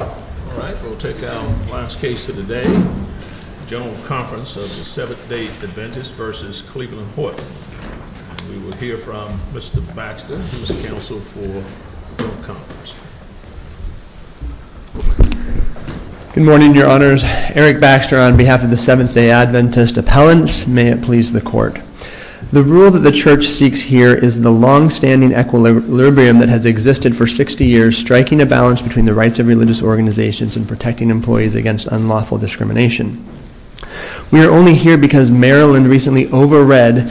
All right, we'll take our last case of the day, General Conference of the Seventh-Day Adventists v. Cleveland Horton. We will hear from Mr. Baxter, who is counsel for the General Conference. Good morning, Your Honors. Eric Baxter on behalf of the Seventh-Day Adventist Appellants. May it please the Court. The rule that the Church seeks here is the long-standing equilibrium that has existed for 60 years, striking a balance between the rights of religious organizations and protecting employees against unlawful discrimination. We are only here because Maryland recently over-read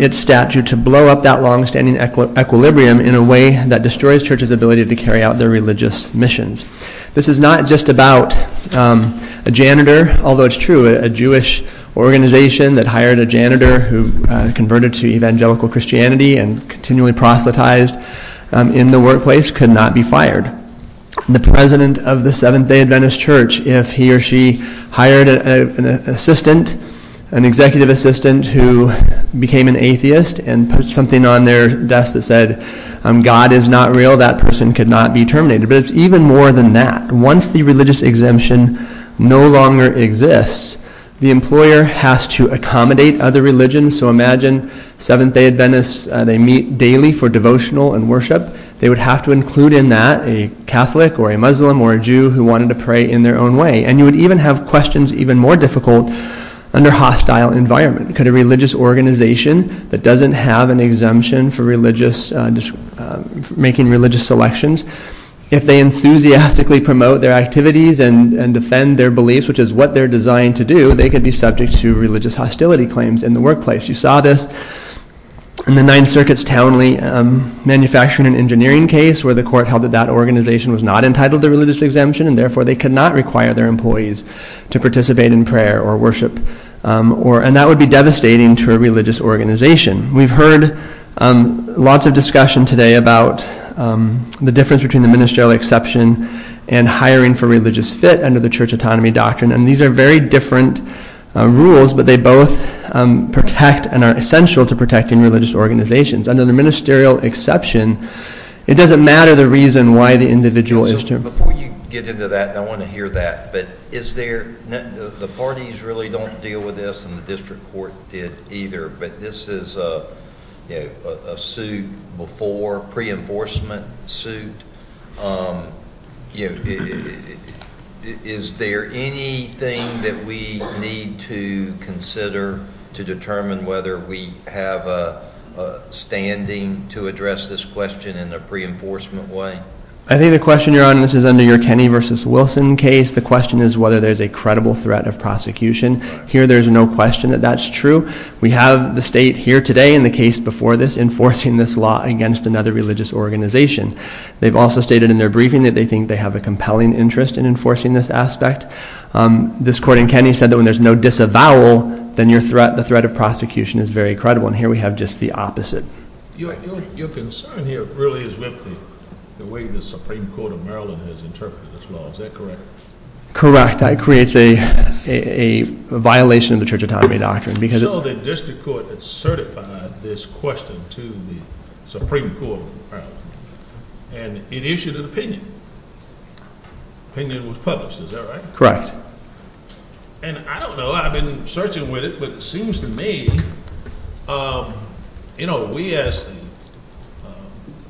its statute to blow up that long-standing equilibrium in a way that destroys Church's ability to carry out their religious missions. This is not just about a janitor, although it's true, a Jewish organization that hired a janitor who converted to evangelical Christianity and continually proselytized in the workplace could not be fired. The president of the Seventh-Day Adventist Church, if he or she hired an assistant, an executive assistant who became an atheist and put something on their desk that said, God is not real, that person could not be terminated. But it's even more than that. Once the religious exemption no longer exists, the employer has to accommodate other religions. So imagine Seventh-Day Adventists, they meet daily for devotional and worship. They would have to include in that a Catholic or a Muslim or a Jew who wanted to pray in their own way. And you would even have questions even more difficult under hostile environment. Could a religious organization that doesn't have an exemption for religious, making religious selections, if they enthusiastically promote their activities and defend their beliefs, which is what they're designed to do, they could be subject to religious hostility claims in the workplace. You saw this in the Ninth Circuit's Townley manufacturing and engineering case where the court held that that organization was not entitled to religious exemption and therefore they could not require their employees to participate in prayer or worship. And that would be devastating to a religious organization. We've heard lots of discussion today about the difference between the ministerial exception and hiring for religious fit under the church autonomy doctrine. And these are very different rules, but they both protect and are essential to protecting religious organizations. Under the ministerial exception, it doesn't matter the reason why the individual is termed. Before you get into that, I want to hear that. But the parties really don't deal with this and the district court did either, but this is a suit before, pre-enforcement suit. Is there anything that we need to consider to determine whether we have a standing to address this question in a pre-enforcement way? I think the question you're on, and this is under your Kenny v. Wilson case, the question is whether there's a credible threat of prosecution. Here there's no question that that's true. We have the state here today in the case before this enforcing this law against another religious organization. They've also stated in their briefing that they think they have a compelling interest in enforcing this aspect. This court in Kenny said that when there's no disavowal, then the threat of prosecution is very credible, and here we have just the opposite. Your concern here really is with the way the Supreme Court of Maryland has interpreted this law. Is that correct? Correct. It creates a violation of the church autonomy doctrine. So the district court certified this question to the Supreme Court of Maryland, and it issued an opinion. The opinion was published, is that right? Correct. And I don't know, I've been searching with it, but it seems to me, we as the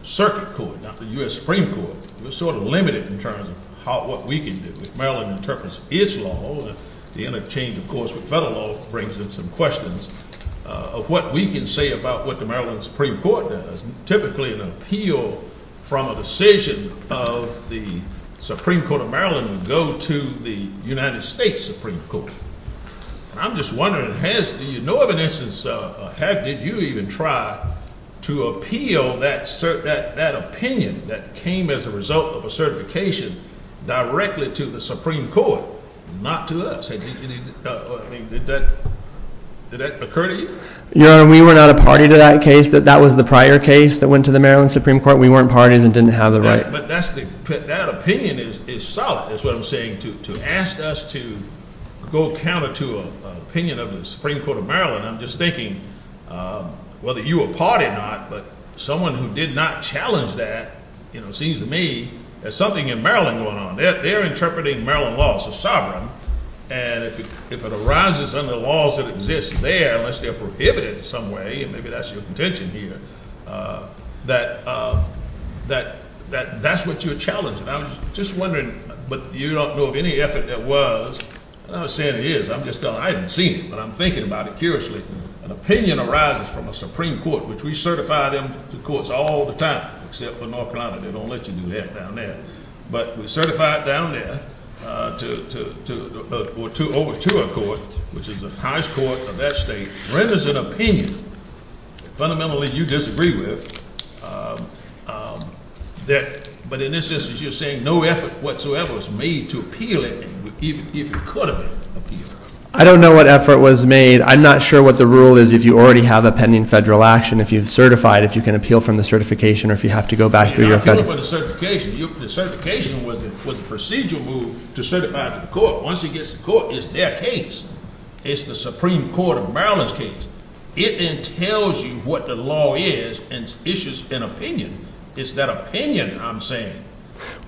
circuit court, not the U.S. Supreme Court, we're sort of limited in terms of what we can do. If Maryland interprets its law, the interchange, of course, with federal law brings in some questions of what we can say about what the Maryland Supreme Court does. Typically an appeal from a decision of the Supreme Court of Maryland would go to the United States Supreme Court. And I'm just wondering, do you know of an instance, or how did you even try to appeal that opinion that came as a result of a certification directly to the Supreme Court, not to us? Did that occur to you? Your Honor, we were not a party to that case. That was the prior case that went to the Maryland Supreme Court. We weren't parties and didn't have the right. But that opinion is solid, is what I'm saying. To ask us to go counter to an opinion of the Supreme Court of Maryland, I'm just thinking whether you were part or not, but someone who did not challenge that, you know, it seems to me there's something in Maryland going on. They're interpreting Maryland laws as sovereign, and if it arises under laws that exist there unless they're prohibited in some way, and maybe that's your contention here, that that's what you're challenging. I'm just wondering, but you don't know of any effort that was. I'm not saying it is. I'm just telling you I haven't seen it, but I'm thinking about it curiously. An opinion arises from a Supreme Court, which we certify them to courts all the time except for North Carolina. They don't let you do that down there. But we certify it down there over to our court, which is the highest court of that state, renders an opinion fundamentally you disagree with, but in this instance you're saying no effort whatsoever was made to appeal it, even if it could have been appealed. I don't know what effort was made. I'm not sure what the rule is if you already have a pending federal action, if you've certified, if you can appeal from the certification, or if you have to go back through your federal. The certification was a procedural move to certify to the court. Once it gets to court, it's their case. It's the Supreme Court of Maryland's case. It then tells you what the law is and issues an opinion. It's that opinion I'm saying.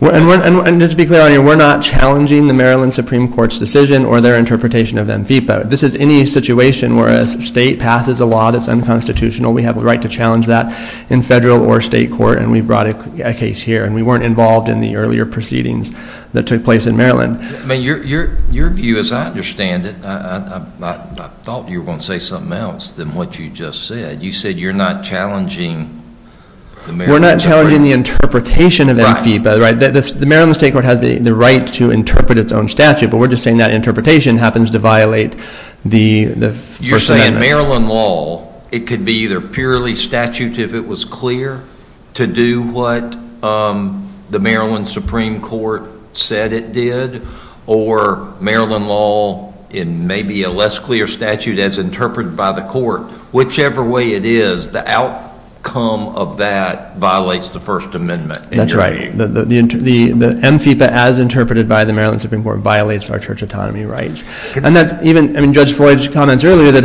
And just to be clear on you, we're not challenging the Maryland Supreme Court's decision or their interpretation of MFIPA. This is any situation where a state passes a law that's unconstitutional, we have a right to challenge that in federal or state court, and we've brought a case here. And we weren't involved in the earlier proceedings that took place in Maryland. Your view, as I understand it, I thought you were going to say something else than what you just said. You said you're not challenging the Maryland Supreme Court. We're not challenging the interpretation of MFIPA. The Maryland State Court has the right to interpret its own statute, but we're just saying that interpretation happens to violate the First Amendment. In Maryland law, it could be either purely statute if it was clear to do what the Maryland Supreme Court said it did, or Maryland law in maybe a less clear statute as interpreted by the court. Whichever way it is, the outcome of that violates the First Amendment. That's right. The MFIPA, as interpreted by the Maryland Supreme Court, violates our church autonomy rights. Judge Floyd comments earlier that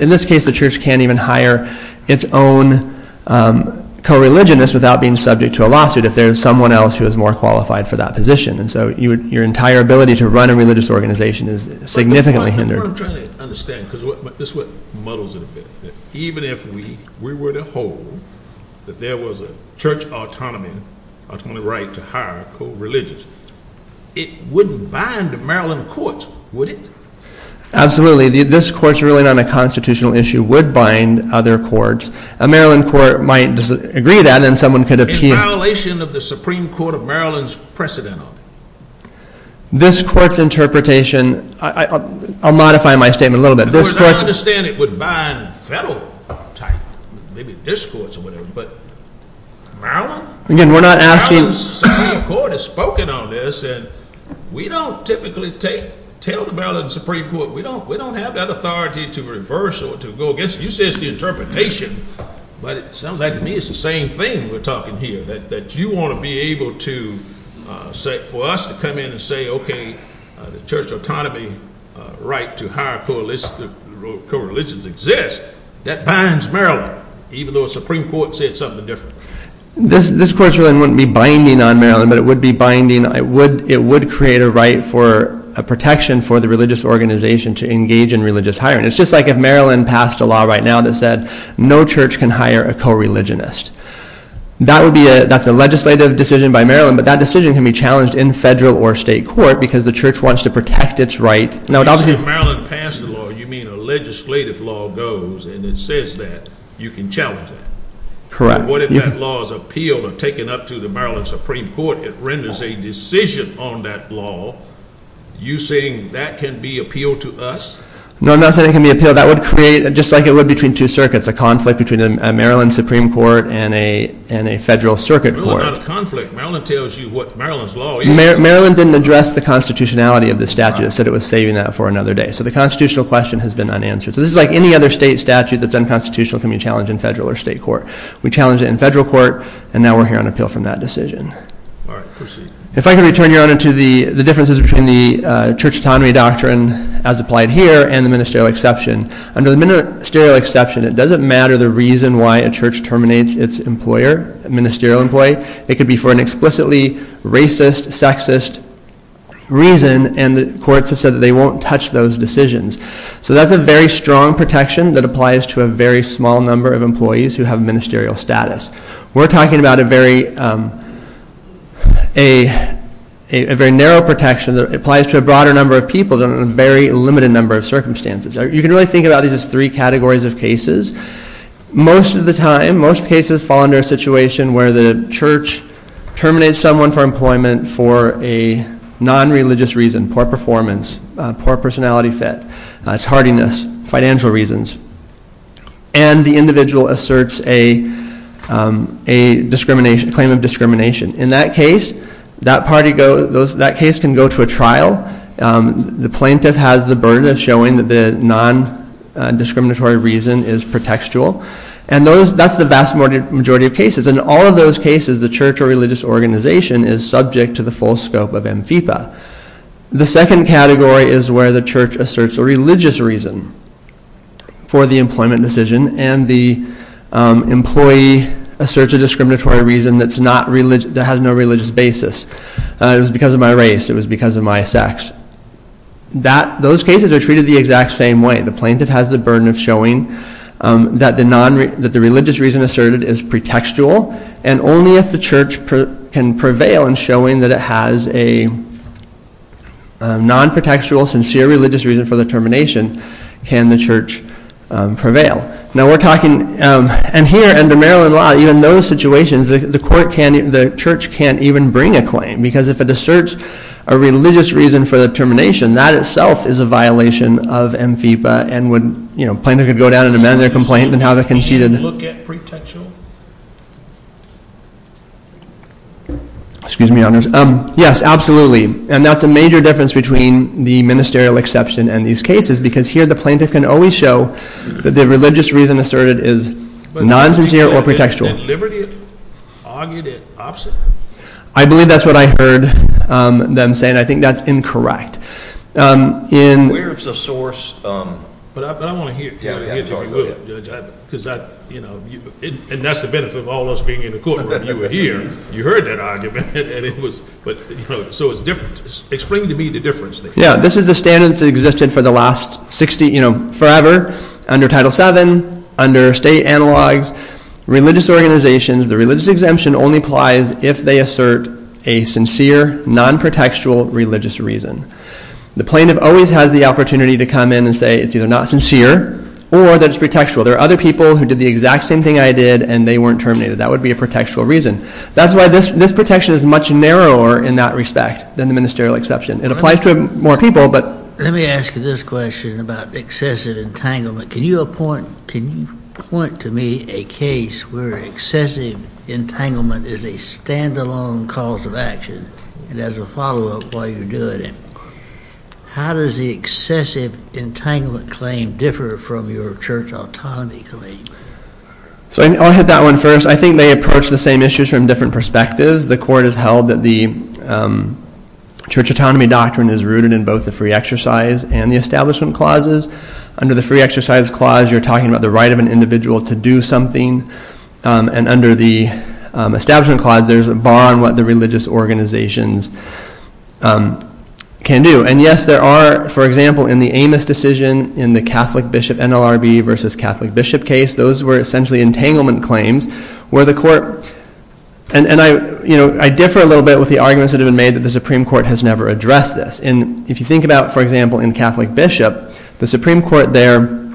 in this case the church can't even hire its own co-religionist without being subject to a lawsuit if there's someone else who is more qualified for that position. So your entire ability to run a religious organization is significantly hindered. But what I'm trying to understand, because this is what muddles it a bit, even if we were to hold that there was a church autonomy right to hire co-religious, it wouldn't bind Maryland courts, would it? Absolutely. This court's ruling on a constitutional issue would bind other courts. A Maryland court might agree to that, and then someone could appeal. In violation of the Supreme Court of Maryland's precedent on it. This court's interpretation – I'll modify my statement a little bit. In other words, I understand it would bind federal type, maybe this court or whatever, but Maryland? Again, we're not asking – We don't typically tell the Maryland Supreme Court, we don't have that authority to reverse or to go against. You say it's the interpretation, but it sounds like to me it's the same thing we're talking here, that you want to be able to – for us to come in and say, okay, the church autonomy right to hire co-religions exists. That binds Maryland, even though a Supreme Court said something different. This court's ruling wouldn't be binding on Maryland, but it would be binding – it would create a right for a protection for the religious organization to engage in religious hiring. It's just like if Maryland passed a law right now that said no church can hire a co-religionist. That's a legislative decision by Maryland, but that decision can be challenged in federal or state court because the church wants to protect its right. So if Maryland passed a law, you mean a legislative law goes and it says that you can challenge that? Correct. What if that law is appealed or taken up to the Maryland Supreme Court? It renders a decision on that law. You're saying that can be appealed to us? No, I'm not saying it can be appealed. That would create, just like it would between two circuits, a conflict between a Maryland Supreme Court and a federal circuit court. No, not a conflict. Maryland tells you what Maryland's law is. Maryland didn't address the constitutionality of the statute. It said it was saving that for another day. So the constitutional question has been unanswered. So this is like any other state statute that's unconstitutional can be challenged in federal or state court. We challenged it in federal court, and now we're here on appeal from that decision. All right, proceed. If I can return, Your Honor, to the differences between the church autonomy doctrine as applied here and the ministerial exception. Under the ministerial exception, it doesn't matter the reason why a church terminates its employer, ministerial employee. It could be for an explicitly racist, sexist reason, and the courts have said that they won't touch those decisions. So that's a very strong protection that applies to a very small number of employees who have ministerial status. We're talking about a very narrow protection that applies to a broader number of people under a very limited number of circumstances. You can really think about these as three categories of cases. Most of the time, most cases fall under a situation where the church terminates someone for employment for a nonreligious reason, poor performance, poor personality fit, tardiness, financial reasons, and the individual asserts a claim of discrimination. In that case, that case can go to a trial. The plaintiff has the burden of showing that the nondiscriminatory reason is pretextual, and that's the vast majority of cases. In all of those cases, the church or religious organization is subject to the full scope of am fipa. The second category is where the church asserts a religious reason for the employment decision, and the employee asserts a discriminatory reason that has no religious basis. It was because of my race. It was because of my sex. Those cases are treated the exact same way. The plaintiff has the burden of showing that the religious reason asserted is pretextual, and only if the church can prevail and showing that it has a nonpretextual, sincere religious reason for the termination can the church prevail. Now, we're talking, and here under Maryland law, even those situations, the church can't even bring a claim because if it asserts a religious reason for the termination, that itself is a violation of am fipa, and plaintiff could go down and amend their complaint and have it conceded. Can you look at pretextual? Excuse me, Your Honors. Yes, absolutely. And that's a major difference between the ministerial exception and these cases, because here the plaintiff can always show that the religious reason asserted is non-sincere or pretextual. But liberty argued it opposite? I believe that's what I heard them saying. I think that's incorrect. Where's the source? But I want to hear it from you, Judge. And that's the benefit of all us being in the courtroom. You were here. You heard that argument. So it's different. Explain to me the difference. Yeah, this is the standards that existed for the last 60, forever, under Title VII, under state analogs, religious organizations. The religious exemption only applies if they assert a sincere, non-pretextual religious reason. The plaintiff always has the opportunity to come in and say it's either not sincere or that it's pretextual. There are other people who did the exact same thing I did, and they weren't terminated. That would be a pretextual reason. That's why this protection is much narrower in that respect than the ministerial exception. It applies to more people, but. Let me ask you this question about excessive entanglement. Can you appoint to me a case where excessive entanglement is a standalone cause of action and as a follow-up while you do it? How does the excessive entanglement claim differ from your church autonomy claim? I'll hit that one first. I think they approach the same issues from different perspectives. The court has held that the church autonomy doctrine is rooted in both the free exercise and the establishment clauses. Under the free exercise clause, you're talking about the right of an individual to do something. And under the establishment clause, there's a bar on what the religious organizations can do. And yes, there are, for example, in the Amos decision, in the Catholic bishop NLRB versus Catholic bishop case, those were essentially entanglement claims where the court. And I differ a little bit with the arguments that have been made that the Supreme Court has never addressed this. And if you think about, for example, in Catholic bishop, the Supreme Court there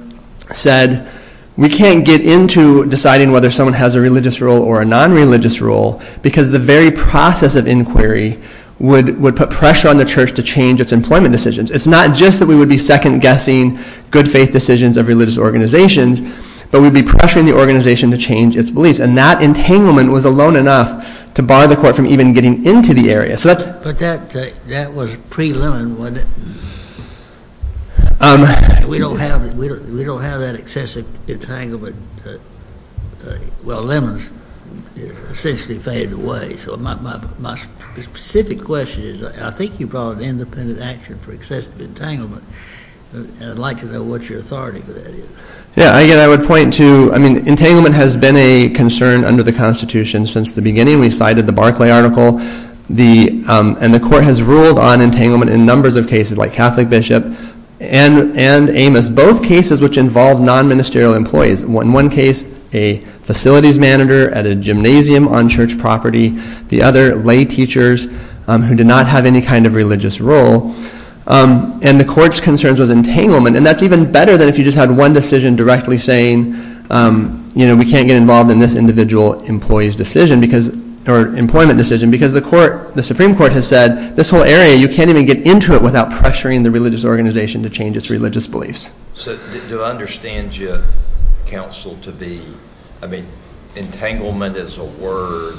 said, we can't get into deciding whether someone has a religious rule or a non-religious rule because the very process of inquiry would put pressure on the church to change its employment decisions. It's not just that we would be second-guessing good faith decisions of religious organizations, but we'd be pressuring the organization to change its beliefs. And that entanglement was alone enough to bar the court from even getting into the area. But that was pre-Lemon, wasn't it? We don't have that excessive entanglement. Well, Lemon's essentially faded away. So my specific question is, I think you brought an independent action for excessive entanglement. And I'd like to know what your authority for that is. Yeah, again, I would point to, I mean, entanglement has been a concern under the Constitution since the beginning. We cited the Barclay article. And the court has ruled on entanglement in numbers of cases, like Catholic bishop and Amos, both cases which involve non-ministerial employees. In one case, a facilities manager at a gymnasium on church property. The other, lay teachers who did not have any kind of religious role. And the court's concerns was entanglement. And that's even better than if you just had one decision directly saying, you know, we can't get involved in this individual employee's decision because, or employment decision, because the Supreme Court has said, this whole area, you can't even get into it without pressuring the religious organization to change its religious beliefs. So do I understand you, counsel, to be, I mean, entanglement is a word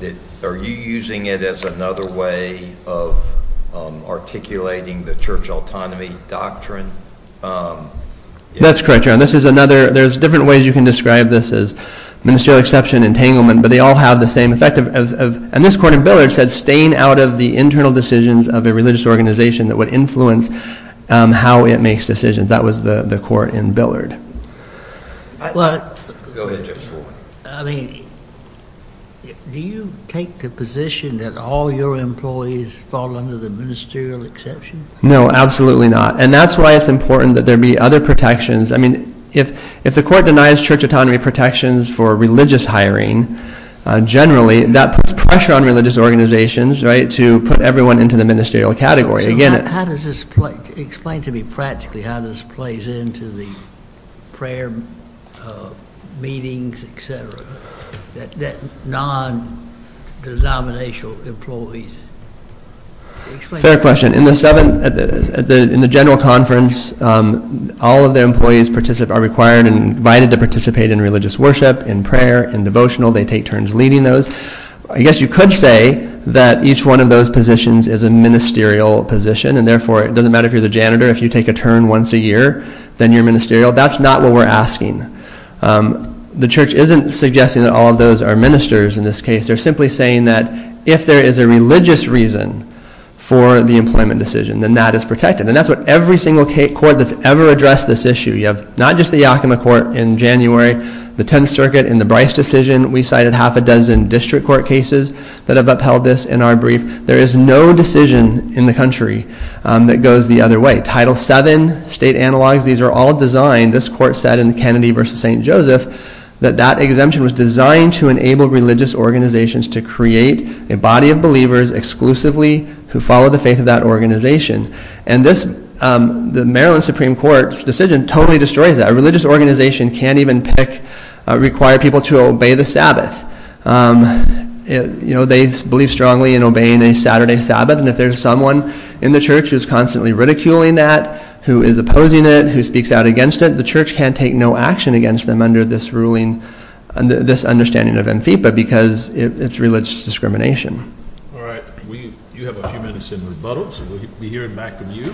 that, are you using it as another way of articulating the church autonomy doctrine? That's correct, Your Honor. This is another, there's different ways you can describe this as ministerial exception, entanglement, but they all have the same effect of, and this court in Billard said, staying out of the internal decisions of a religious organization that would influence how it makes decisions. That was the court in Billard. Go ahead, Judge Foreman. I mean, do you take the position that all your employees fall under the ministerial exception? No, absolutely not. And that's why it's important that there be other protections. I mean, if the court denies church autonomy protections for religious hiring, generally, that puts pressure on religious organizations, right, to put everyone into the ministerial category. So how does this play, explain to me practically how this plays into the prayer meetings, et cetera, that non-denominational employees, explain. Fair question. In the seven, in the general conference, all of the employees participate, are required and invited to participate in religious worship, in prayer, in devotional, they take turns leading those. I guess you could say that each one of those positions is a ministerial position. And therefore, it doesn't matter if you're the janitor. If you take a turn once a year, then you're ministerial. That's not what we're asking. The church isn't suggesting that all of those are ministers in this case. They're simply saying that if there is a religious reason for the employment decision, then that is protected. And that's what every single court that's ever addressed this issue. You have not just the Yakima court in January, the Tenth Circuit in the Bryce decision. We cited half a dozen district court cases that have upheld this in our brief. There is no decision in the country that goes the other way. Title VII, state analogs, these are all designed, this court said in Kennedy versus St. Joseph, that that exemption was designed to enable religious organizations to create a body of believers exclusively who follow the faith of that organization. And this, the Maryland Supreme Court's decision totally destroys that. A religious organization can't even pick, require people to obey the Sabbath. They believe strongly in obeying a Saturday Sabbath. And if there's someone in the church who is constantly ridiculing that, who is opposing it, who speaks out against it, the church can't take no action against them under this ruling, this understanding of ANFIPA because it's religious discrimination. All right. You have a few minutes in rebuttal, so we'll be hearing back from you.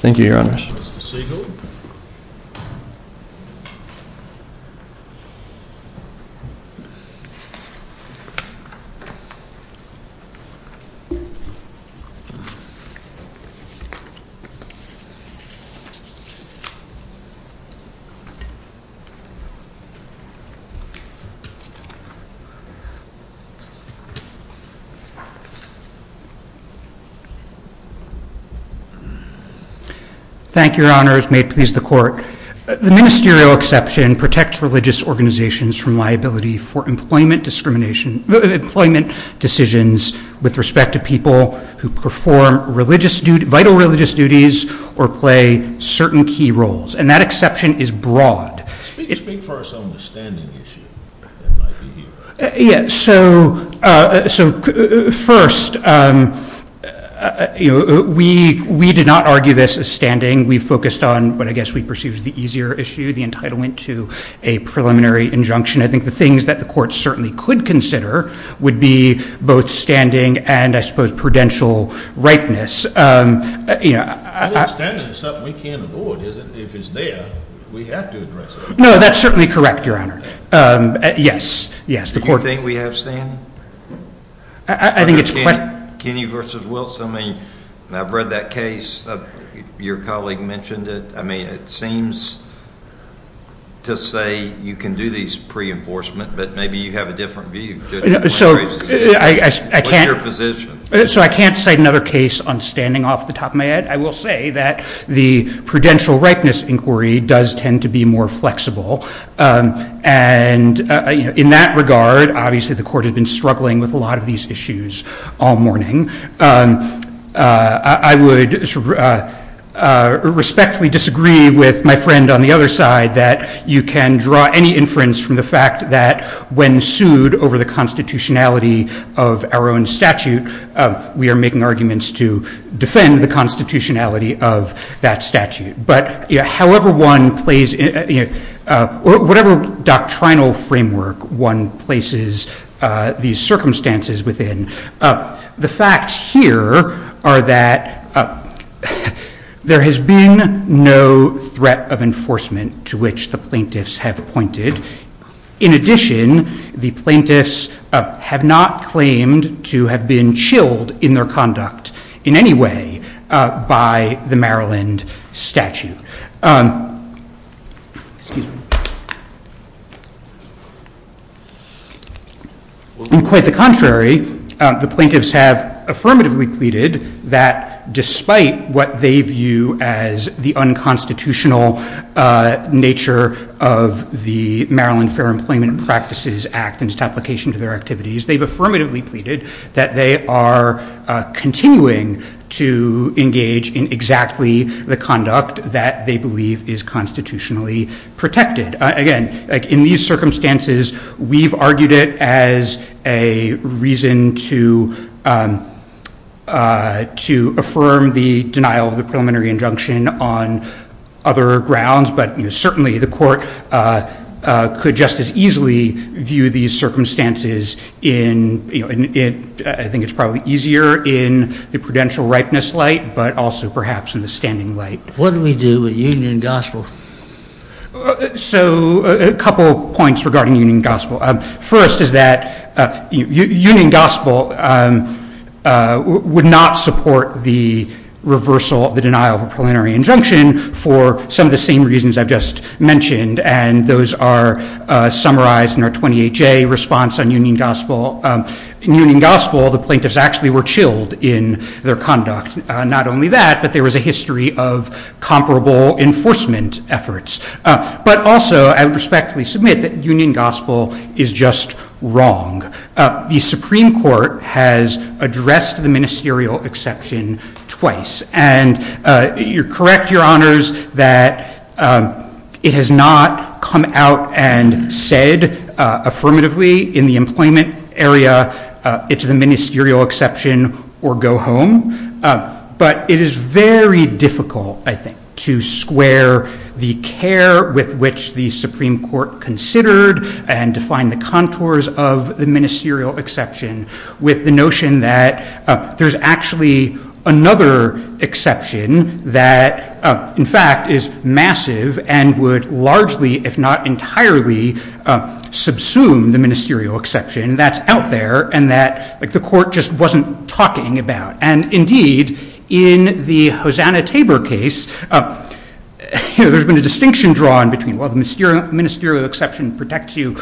Thank you, Your Honor. Mr. Siegel. Thank you, Your Honors. May it please the Court. The ministerial exception protects religious organizations from liability for employment decisions with respect to people who perform vital religious duties or play certain key roles. And that exception is broad. Speak for us on the standing issue that might be here. Yes. So first, we did not argue this as standing. We focused on what I guess we perceived as the easier issue, the entitlement to a preliminary injunction. I think the things that the Court certainly could consider would be both standing and I suppose prudential rightness. I think standing is something we can't avoid. If it's there, we have to address it. No, that's certainly correct, Your Honor. Yes, yes. Do you think we have standing? I think it's a question. Kenny versus Wilson. I mean, I've read that case. Your colleague mentioned it. I mean, it seems to say you can do these pre-enforcement, but maybe you have a different view. So what's your position? So I can't cite another case on standing off the top of my head. I will say that the prudential rightness inquiry does tend to be more flexible. And in that regard, obviously the Court has been struggling with a lot of these issues all morning. I would respectfully disagree with my friend on the other side that you can draw any inference from the fact that when sued over the constitutionality of our own statute, we are making arguments to defend the constitutionality of that statute. But however one plays, whatever doctrinal framework one places these circumstances within, the facts here are that there has been no threat of enforcement to which the plaintiffs have pointed. In addition, the plaintiffs have not claimed to have been chilled in their conduct in any way by the Maryland statute. Excuse me. Quite the contrary, the plaintiffs have affirmatively pleaded that despite what they view as the unconstitutional nature of the Maryland Fair Employment Practices Act and its application to their activities, they've affirmatively pleaded that they are continuing to engage in exactly the conduct that they believe is constitutionally protected. Again, in these circumstances, we've argued it as a reason to affirm the denial of the preliminary injunction on other grounds. But certainly the Court could just as easily view these circumstances in, I think it's probably easier in the prudential ripeness light, but also perhaps in the standing light. What do we do with Union Gospel? So a couple of points regarding Union Gospel. First is that Union Gospel would not support the reversal of the denial of a preliminary injunction for some of the same reasons I've just mentioned. And those are summarized in our 28-J response on Union Gospel. In Union Gospel, the plaintiffs actually were chilled in their conduct. Not only that, but there was a history of comparable enforcement efforts. But also, I would respectfully submit that Union Gospel is just wrong. The Supreme Court has addressed the ministerial exception twice. And you're correct, Your Honors, that it has not come out and said affirmatively in the employment area it's the ministerial exception or go home. But it is very difficult, I think, to square the care with which the Supreme Court considered and defined the contours of the ministerial exception with the notion that there's actually another exception that, in fact, is massive and would largely, if not entirely, subsume the ministerial exception that's out there and that the court just wasn't talking about. And indeed, in the Hosanna-Tabor case, there's been a distinction drawn between, well, the ministerial exception protects you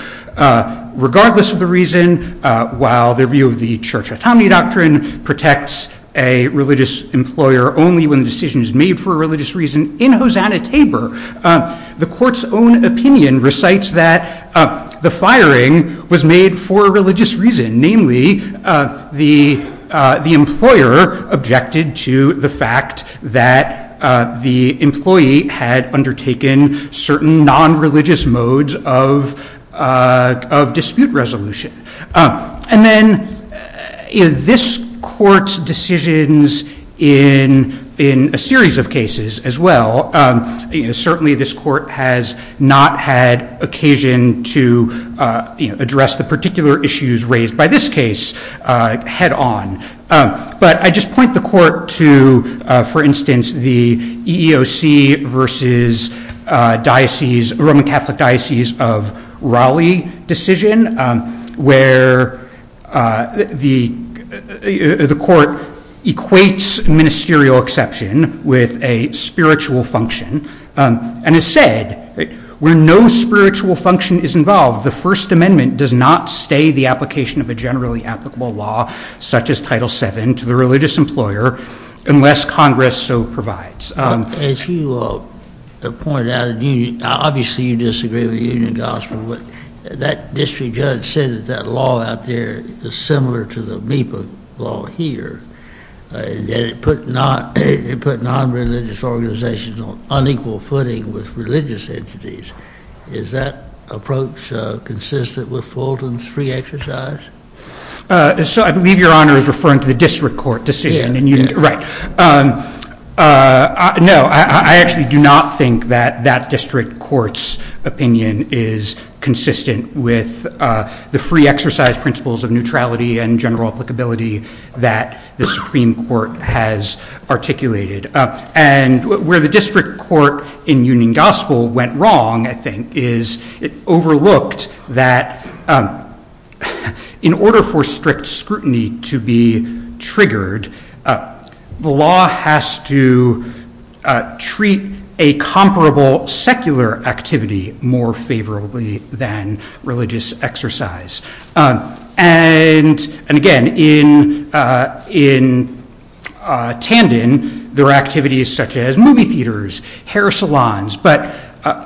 regardless of the reason, while their view of the church autonomy doctrine protects a religious employer only when the decision is made for a religious reason. In Hosanna-Tabor, the court's own opinion recites that the firing was made for a religious reason, namely the employer objected to the fact that the employee had undertaken certain non-religious modes of dispute resolution. And then this court's decisions in a series of cases as well, certainly this court has not had occasion to address the particular issues raised by this case head on. But I just point the court to, for instance, the EEOC versus Roman Catholic Diocese of Raleigh decision where the court equates ministerial exception with a spiritual function. And as said, where no spiritual function is involved, the First Amendment does not stay the application of a generally applicable law, such as Title VII, to the religious employer unless Congress so provides. As you pointed out, obviously you disagree with union gospel. But that district judge said that that law out there is similar to the MIPA law here, that it put non-religious organizations on unequal footing with religious entities. Is that approach consistent with Fulton's free exercise? So I believe Your Honor is referring to the district court decision. Right. No, I actually do not think that that district court's opinion is consistent with the free exercise principles of neutrality and general applicability that the Supreme Court has articulated. And where the district court in union gospel went wrong, I think, is it overlooked that in order for strict scrutiny to be triggered, the law has to treat a comparable secular activity more favorably than religious exercise. And again, in Tandon, there are activities such as movie theaters, hair salons, but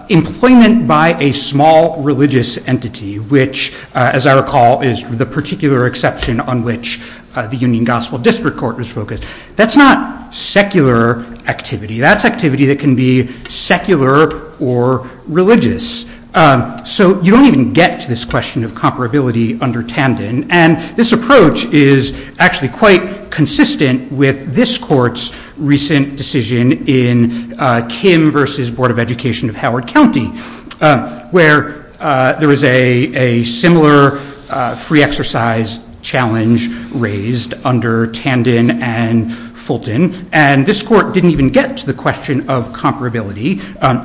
employment by a small religious entity, which, as I recall, is the particular exception on which the union gospel district court was focused. That's not secular activity. That's activity that can be secular or religious. So you don't even get to this question of comparability under Tandon. And this approach is actually quite consistent with this court's recent decision in Kim versus Board of Education of Howard County, where there was a similar free exercise challenge raised under Tandon and Fulton. And this court didn't even get to the question of comparability.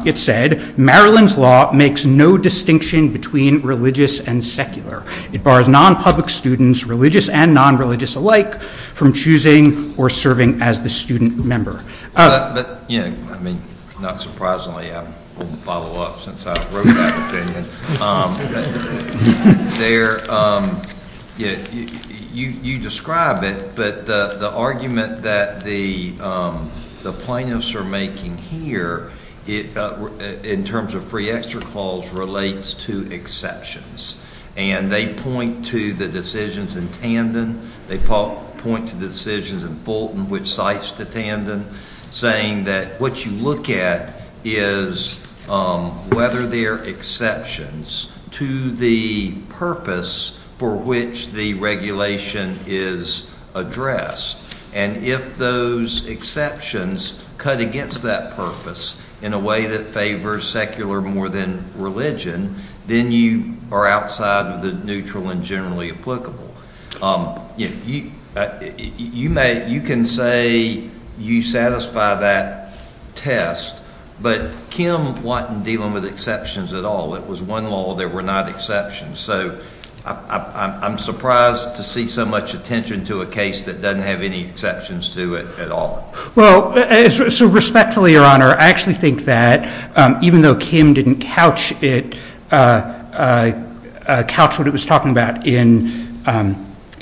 It said, Maryland's law makes no distinction between religious and secular. It bars non-public students, religious and non-religious alike, from choosing or serving as the student member. I mean, not surprisingly, I won't follow up since I wrote that opinion. You describe it, but the argument that the plaintiffs are making here, in terms of free extra calls, relates to exceptions. And they point to the decisions in Tandon. They point to the decisions in Fulton, which cites to Tandon, saying that what you look at is whether there are exceptions to the purpose for which the regulation is addressed. And if those exceptions cut against that purpose in a way that favors secular more than religion, then you are outside of the neutral and generally applicable. You can say you satisfy that test, but Kim wasn't dealing with exceptions at all. It was one law. There were not exceptions. So I'm surprised to see so much attention to a case that doesn't have any exceptions to it at all. Well, respectfully, Your Honor, I actually think that even though Kim didn't couch what it was talking about in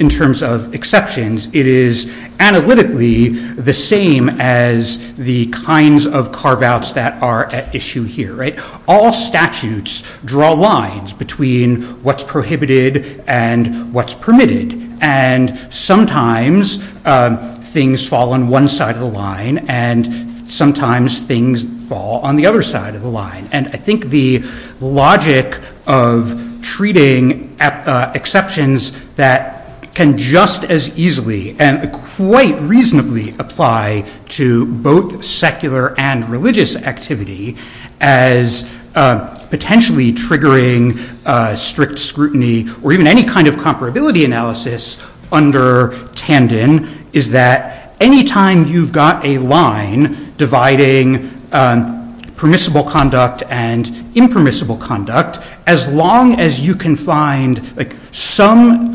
terms of exceptions, it is analytically the same as the kinds of carve-outs that are at issue here. All statutes draw lines between what's prohibited and what's permitted. And sometimes things fall on one side of the line, and sometimes things fall on the other side of the line. And I think the logic of treating exceptions that can just as easily and quite reasonably apply to both secular and religious activity as potentially triggering strict scrutiny or even any kind of comparability analysis under Tandon is that any time you've got a line dividing permissible conduct and impermissible conduct, as long as you can find some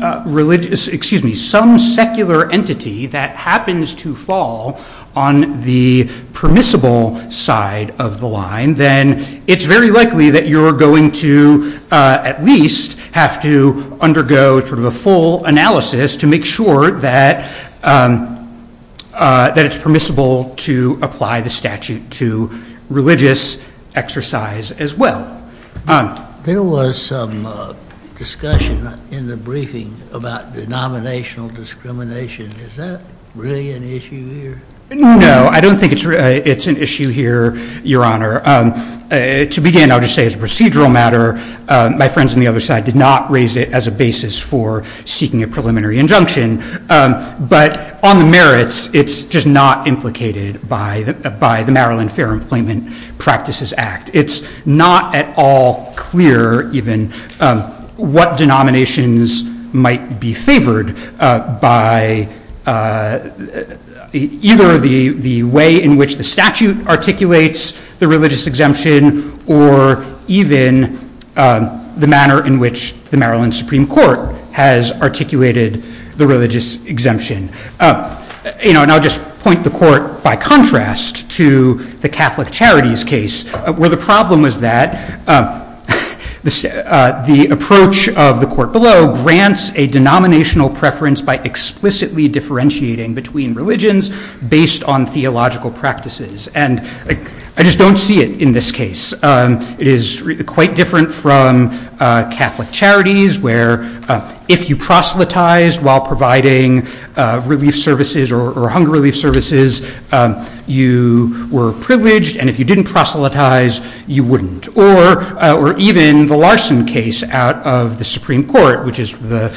secular entity that happens to fall on the permissible side of the line, then it's very likely that you're going to at least have to undergo a full analysis to make sure that it's permissible to apply the statute to religious exercise as well. There was some discussion in the briefing about denominational discrimination. Is that really an issue here? No, I don't think it's an issue here, Your Honor. To begin, I'll just say as a procedural matter, my friends on the other side did not raise it as a basis for seeking a preliminary injunction. But on the merits, it's just not implicated by the Maryland Fair Employment Practices Act. It's not at all clear even what denominations might be favored by either the way in which the statute articulates the religious exemption or even the manner in which the Maryland Supreme Court has articulated the religious exemption. And I'll just point the court by contrast to the Catholic Charities case, where the problem was that the approach of the court below grants a denominational preference by explicitly differentiating between religions based on theological practices. And I just don't see it in this case. It is quite different from Catholic Charities, where if you proselytized while providing relief services or hunger relief services, you were privileged. And if you didn't proselytize, you wouldn't. Or even the Larson case out of the Supreme Court, which is the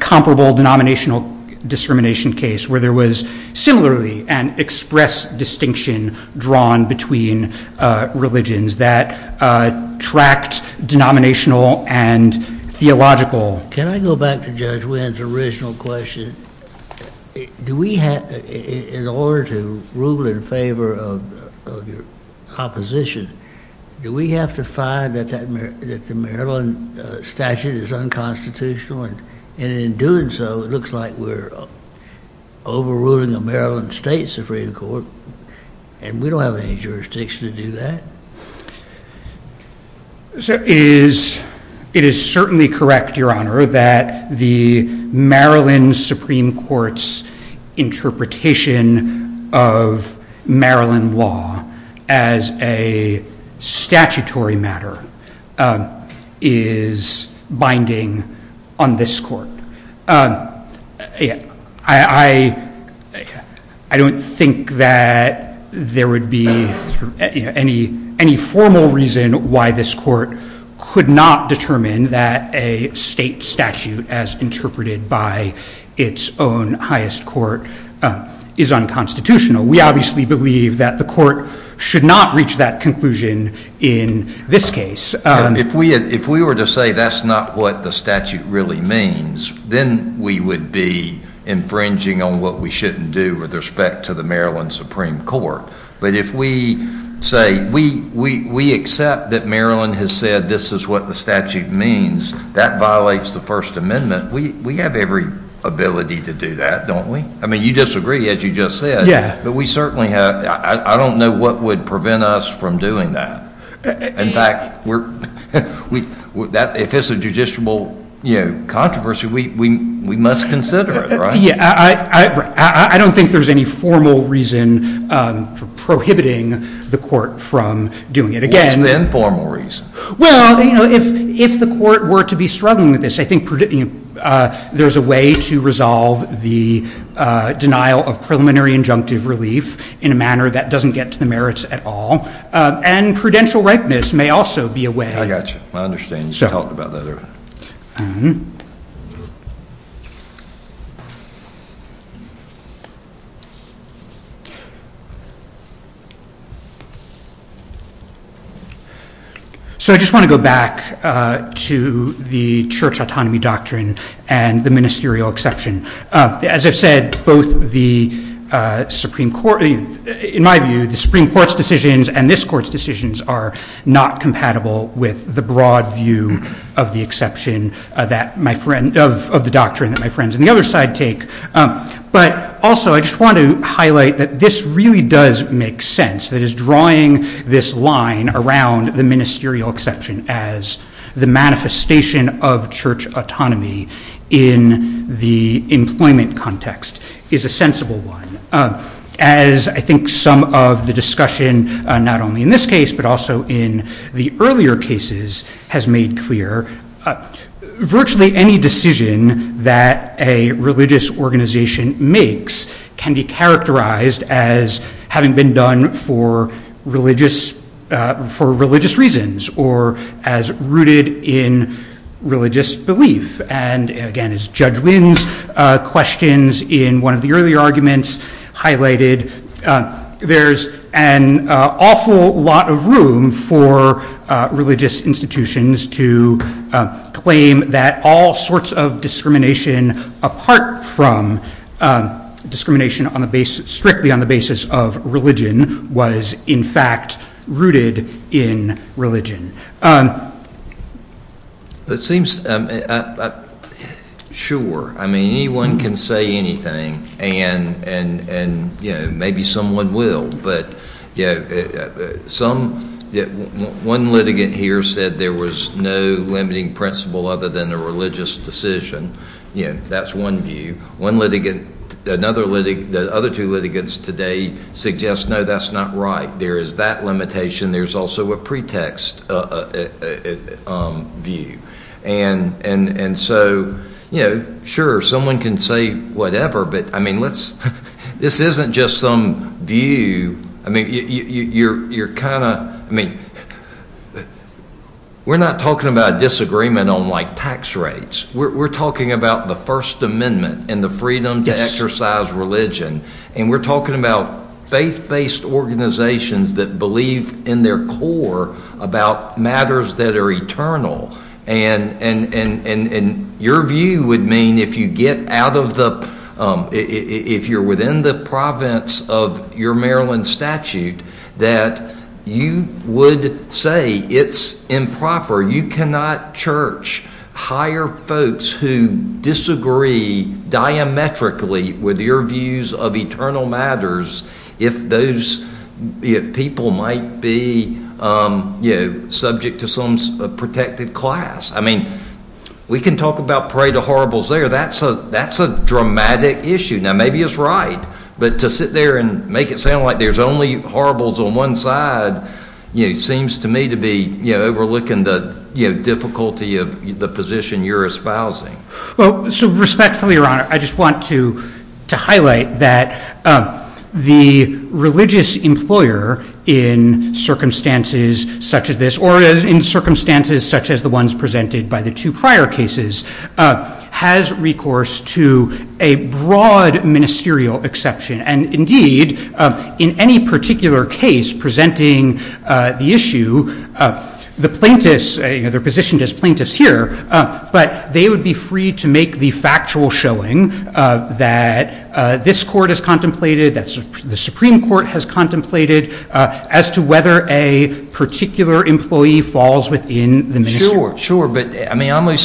comparable denominational discrimination case, where there was similarly an express distinction drawn between religions that tracked denominational and theological. Can I go back to Judge Wynn's original question? Do we have, in order to rule in favor of your opposition, do we have to find that the Maryland statute is unconstitutional? And in doing so, it looks like we're overruling a Maryland state Supreme Court. And we don't have any jurisdiction to do that. So it is certainly correct, Your Honor, that the Maryland Supreme Court's interpretation of Maryland law as a statutory matter is binding on this court. I don't think that there would be any formal reason why this court could not determine that a state statute, as interpreted by its own highest court, is unconstitutional. We obviously believe that the court should not have that conclusion in this case. If we were to say that's not what the statute really means, then we would be infringing on what we shouldn't do with respect to the Maryland Supreme Court. But if we say, we accept that Maryland has said this is what the statute means, that violates the First Amendment, we have every ability to do that, don't we? I mean, you disagree, as you just said. But we certainly have, I don't know what would prevent us from doing that. In fact, if it's a judicial controversy, we must consider it, right? Yeah, I don't think there's any formal reason for prohibiting the court from doing it. Again, it's the informal reason. Well, if the court were to be struggling with this, I think there's a way to resolve the denial of preliminary injunctive relief in a manner that doesn't get to the merits at all. And prudential ripeness may also be a way. I got you. I understand you've talked about that earlier. So I just want to go back to the church autonomy doctrine and the ministerial exception. As I've said, in my view, the Supreme Court's decisions and this court's decisions are not compatible with the broad view of the doctrine that my friends on the other side take. But also, I just want to highlight that this really does make sense, that is drawing this line around the ministerial exception as the manifestation of church autonomy in the employment context is a sensible one. As I think some of the discussion, not only in this case, but also in the earlier cases, has made clear, virtually any decision that a religious organization makes can be characterized as having been done for religious reasons or as rooted in religious belief. And again, as Judge Wynn's questions in one of the earlier arguments highlighted, there's an awful lot of room for religious institutions to claim that all sorts of discrimination apart from discrimination strictly on the basis of religion was, in fact, rooted in religion. Sure. I mean, anyone can say anything, and maybe someone will. But one litigant here said there was no limiting principle other than a religious decision. That's one view. One litigant, another litigant, the other two litigants today suggest, no, that's not right. There is that limitation. There's also a pretext view. And so, sure, someone can say whatever. But I mean, this isn't just some view. I mean, you're kind of, I mean, we're not talking about a disagreement on, like, tax rates. We're talking about the First Amendment and the freedom to exercise religion. And we're talking about faith-based organizations that believe in their core about matters that are eternal. And your view would mean, if you're within the province of your Maryland statute, that you would say it's improper. You cannot, church, hire folks who disagree diametrically with your views of eternal matters if those people might be subject to some protective class. I mean, we can talk about parade of horribles there. That's a dramatic issue. Now, maybe it's right. But to sit there and make it sound like there's only horribles on one side seems to me to be overlooking the difficulty of the position you're espousing. Well, so respectfully, Your Honor, I just want to highlight that the religious employer in circumstances such as this, or in circumstances such as the ones presented by the two prior cases, has recourse to a broad ministerial exception. And indeed, in any particular case presenting the issue, the plaintiffs, they're positioned as plaintiffs here. But they would be free to make the factual showing that this court has contemplated, that the Supreme Court has contemplated, as to whether a particular employee falls within the ministry. Sure, sure. But I mean,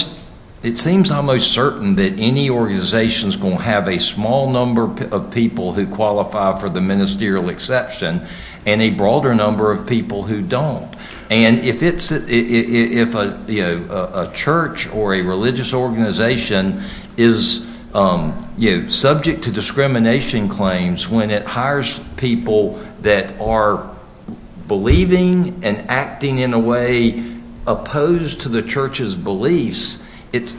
it seems almost certain that any organization's going to have a small number of people who qualify for the ministerial exception, and a broader number of people who don't. And if a church or a religious organization is subject to discrimination claims when it hires people that are believing and acting in a way opposed to the church's beliefs,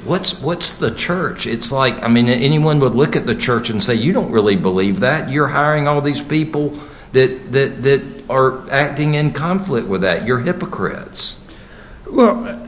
what's the church? It's like, I mean, anyone would look at the church and say, you don't really believe that. You're hiring all these people that are acting in conflict with that. You're hypocrites. Well,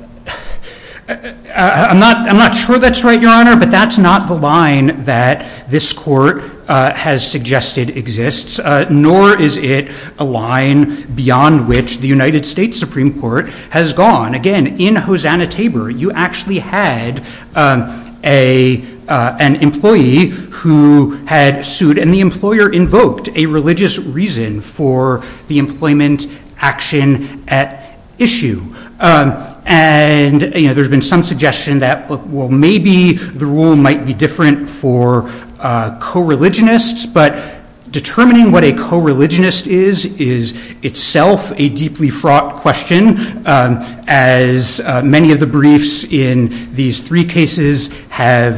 I'm not sure that's right, Your Honor. But that's not the line that this court has suggested exists, nor is it a line beyond which the United States Supreme Court has gone. Again, in Hosanna-Tabor, you actually had an employee who had sued. And the employer invoked a religious reason for the employment action at issue. And there's been some suggestion that, well, maybe the rule might be different for co-religionists. But determining what a co-religionist is is itself a deeply fraught question, as many of the briefs in these three cases have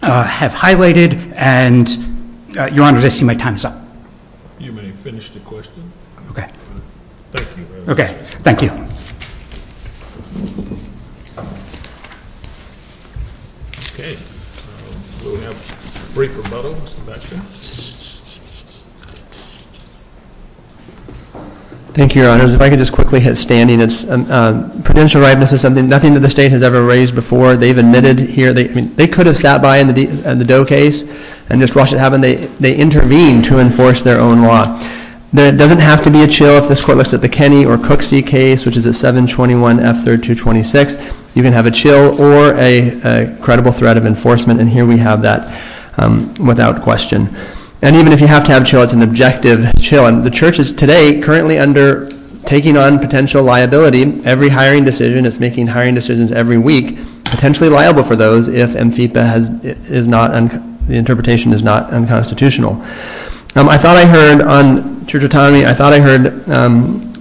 highlighted. And, Your Honor, I see my time is up. You may finish the question. OK. Thank you very much. OK. Thank you. OK. We'll have a brief rebuttal, Sebastian. Thank you, Your Honor. If I could just quickly hit standing, it's prudential rightness is something nothing that the state has ever raised before. They've admitted here. They could have sat by in the Doe case and just watched it happen. They intervened to enforce their own law. There doesn't have to be a chill if this court looks at the Kenney or Cooksey case, which is a 721 F3226. You can have a chill or a credible threat of enforcement. And here we have that without question. And even if you have to have a chill, it's an objective chill. The church is today currently under taking on potential liability. Every hiring decision, it's making hiring decisions every week, potentially liable for those if the interpretation is not unconstitutional. I thought I heard on Church Autonomy, I thought I heard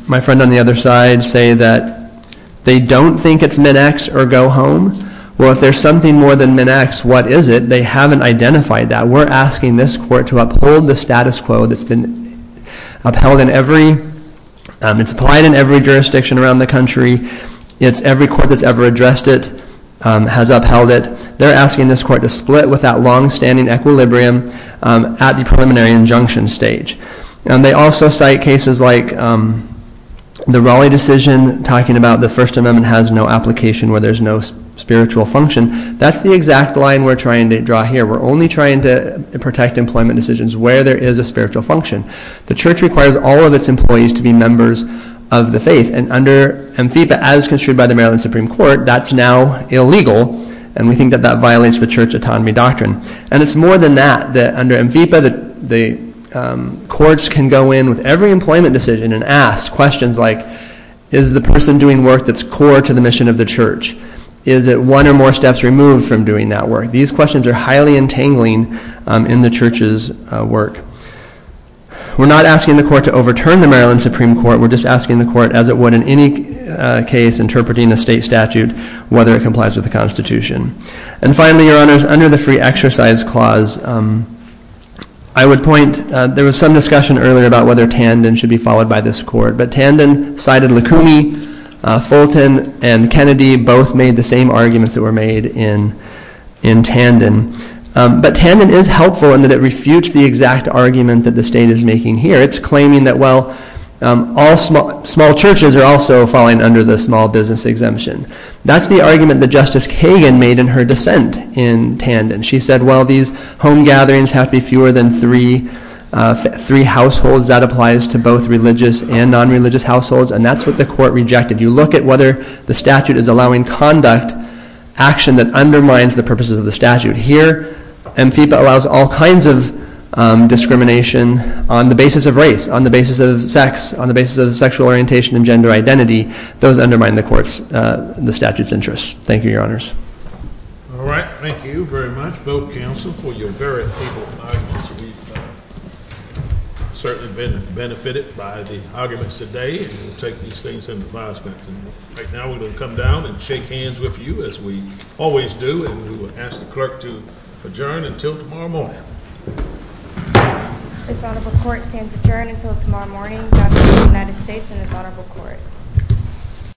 my friend on the other side say that they don't think it's min-ex or go home. Well, if there's something more than min-ex, what is it? They haven't identified that. We're asking this court to uphold the status quo that's upheld in every, it's applied in every jurisdiction around the country. It's every court that's ever addressed it has upheld it. They're asking this court to split with that longstanding equilibrium at the preliminary injunction stage. And they also cite cases like the Raleigh decision, talking about the First Amendment has no application where there's no spiritual function. That's the exact line we're trying to draw here. We're only trying to protect employment decisions where there is a spiritual function. The church requires all of its employees to be members of the faith. And under AMFIPA, as construed by the Maryland Supreme Court, that's now illegal. And we think that that violates the Church Autonomy doctrine. And it's more than that, that under AMFIPA, the courts can go in with every employment decision and ask questions like, is the person doing work that's core to the mission of the church? Is it one or more steps removed from doing that work? These questions are highly entangling in the church's work. We're not asking the court to overturn the Maryland Supreme Court. We're just asking the court, as it would in any case, interpreting a state statute, whether it complies with the Constitution. And finally, your honors, under the Free Exercise Clause, I would point, there was some discussion earlier about whether Tandon should be followed by this court. But Tandon cited Lacumi, Fulton, and Kennedy both made the same arguments that were made in Tandon. But Tandon is helpful in that it refutes the exact argument that the state is making here. It's claiming that, well, all small churches are also falling under the small business exemption. That's the argument that Justice Kagan made in her dissent in Tandon. She said, well, these home gatherings have to be fewer than three households. That applies to both religious and non-religious households. And that's what the court rejected. You look at whether the statute is allowing conduct, action that undermines the purposes of the statute. Here, MFIPA allows all kinds of discrimination on the basis of race, on the basis of sex, on the basis of sexual orientation and gender identity. Those undermine the court's, the statute's interest. Thank you, your honors. All right, thank you very much, both counsel, for your very able arguments. We've certainly been benefited by the arguments today. We'll take these things into the biospectrum. Right now, we're gonna come down and shake hands with you as we always do. And we will ask the clerk to adjourn until tomorrow morning. This honorable court stands adjourned until tomorrow morning. Judge of the United States in this honorable court.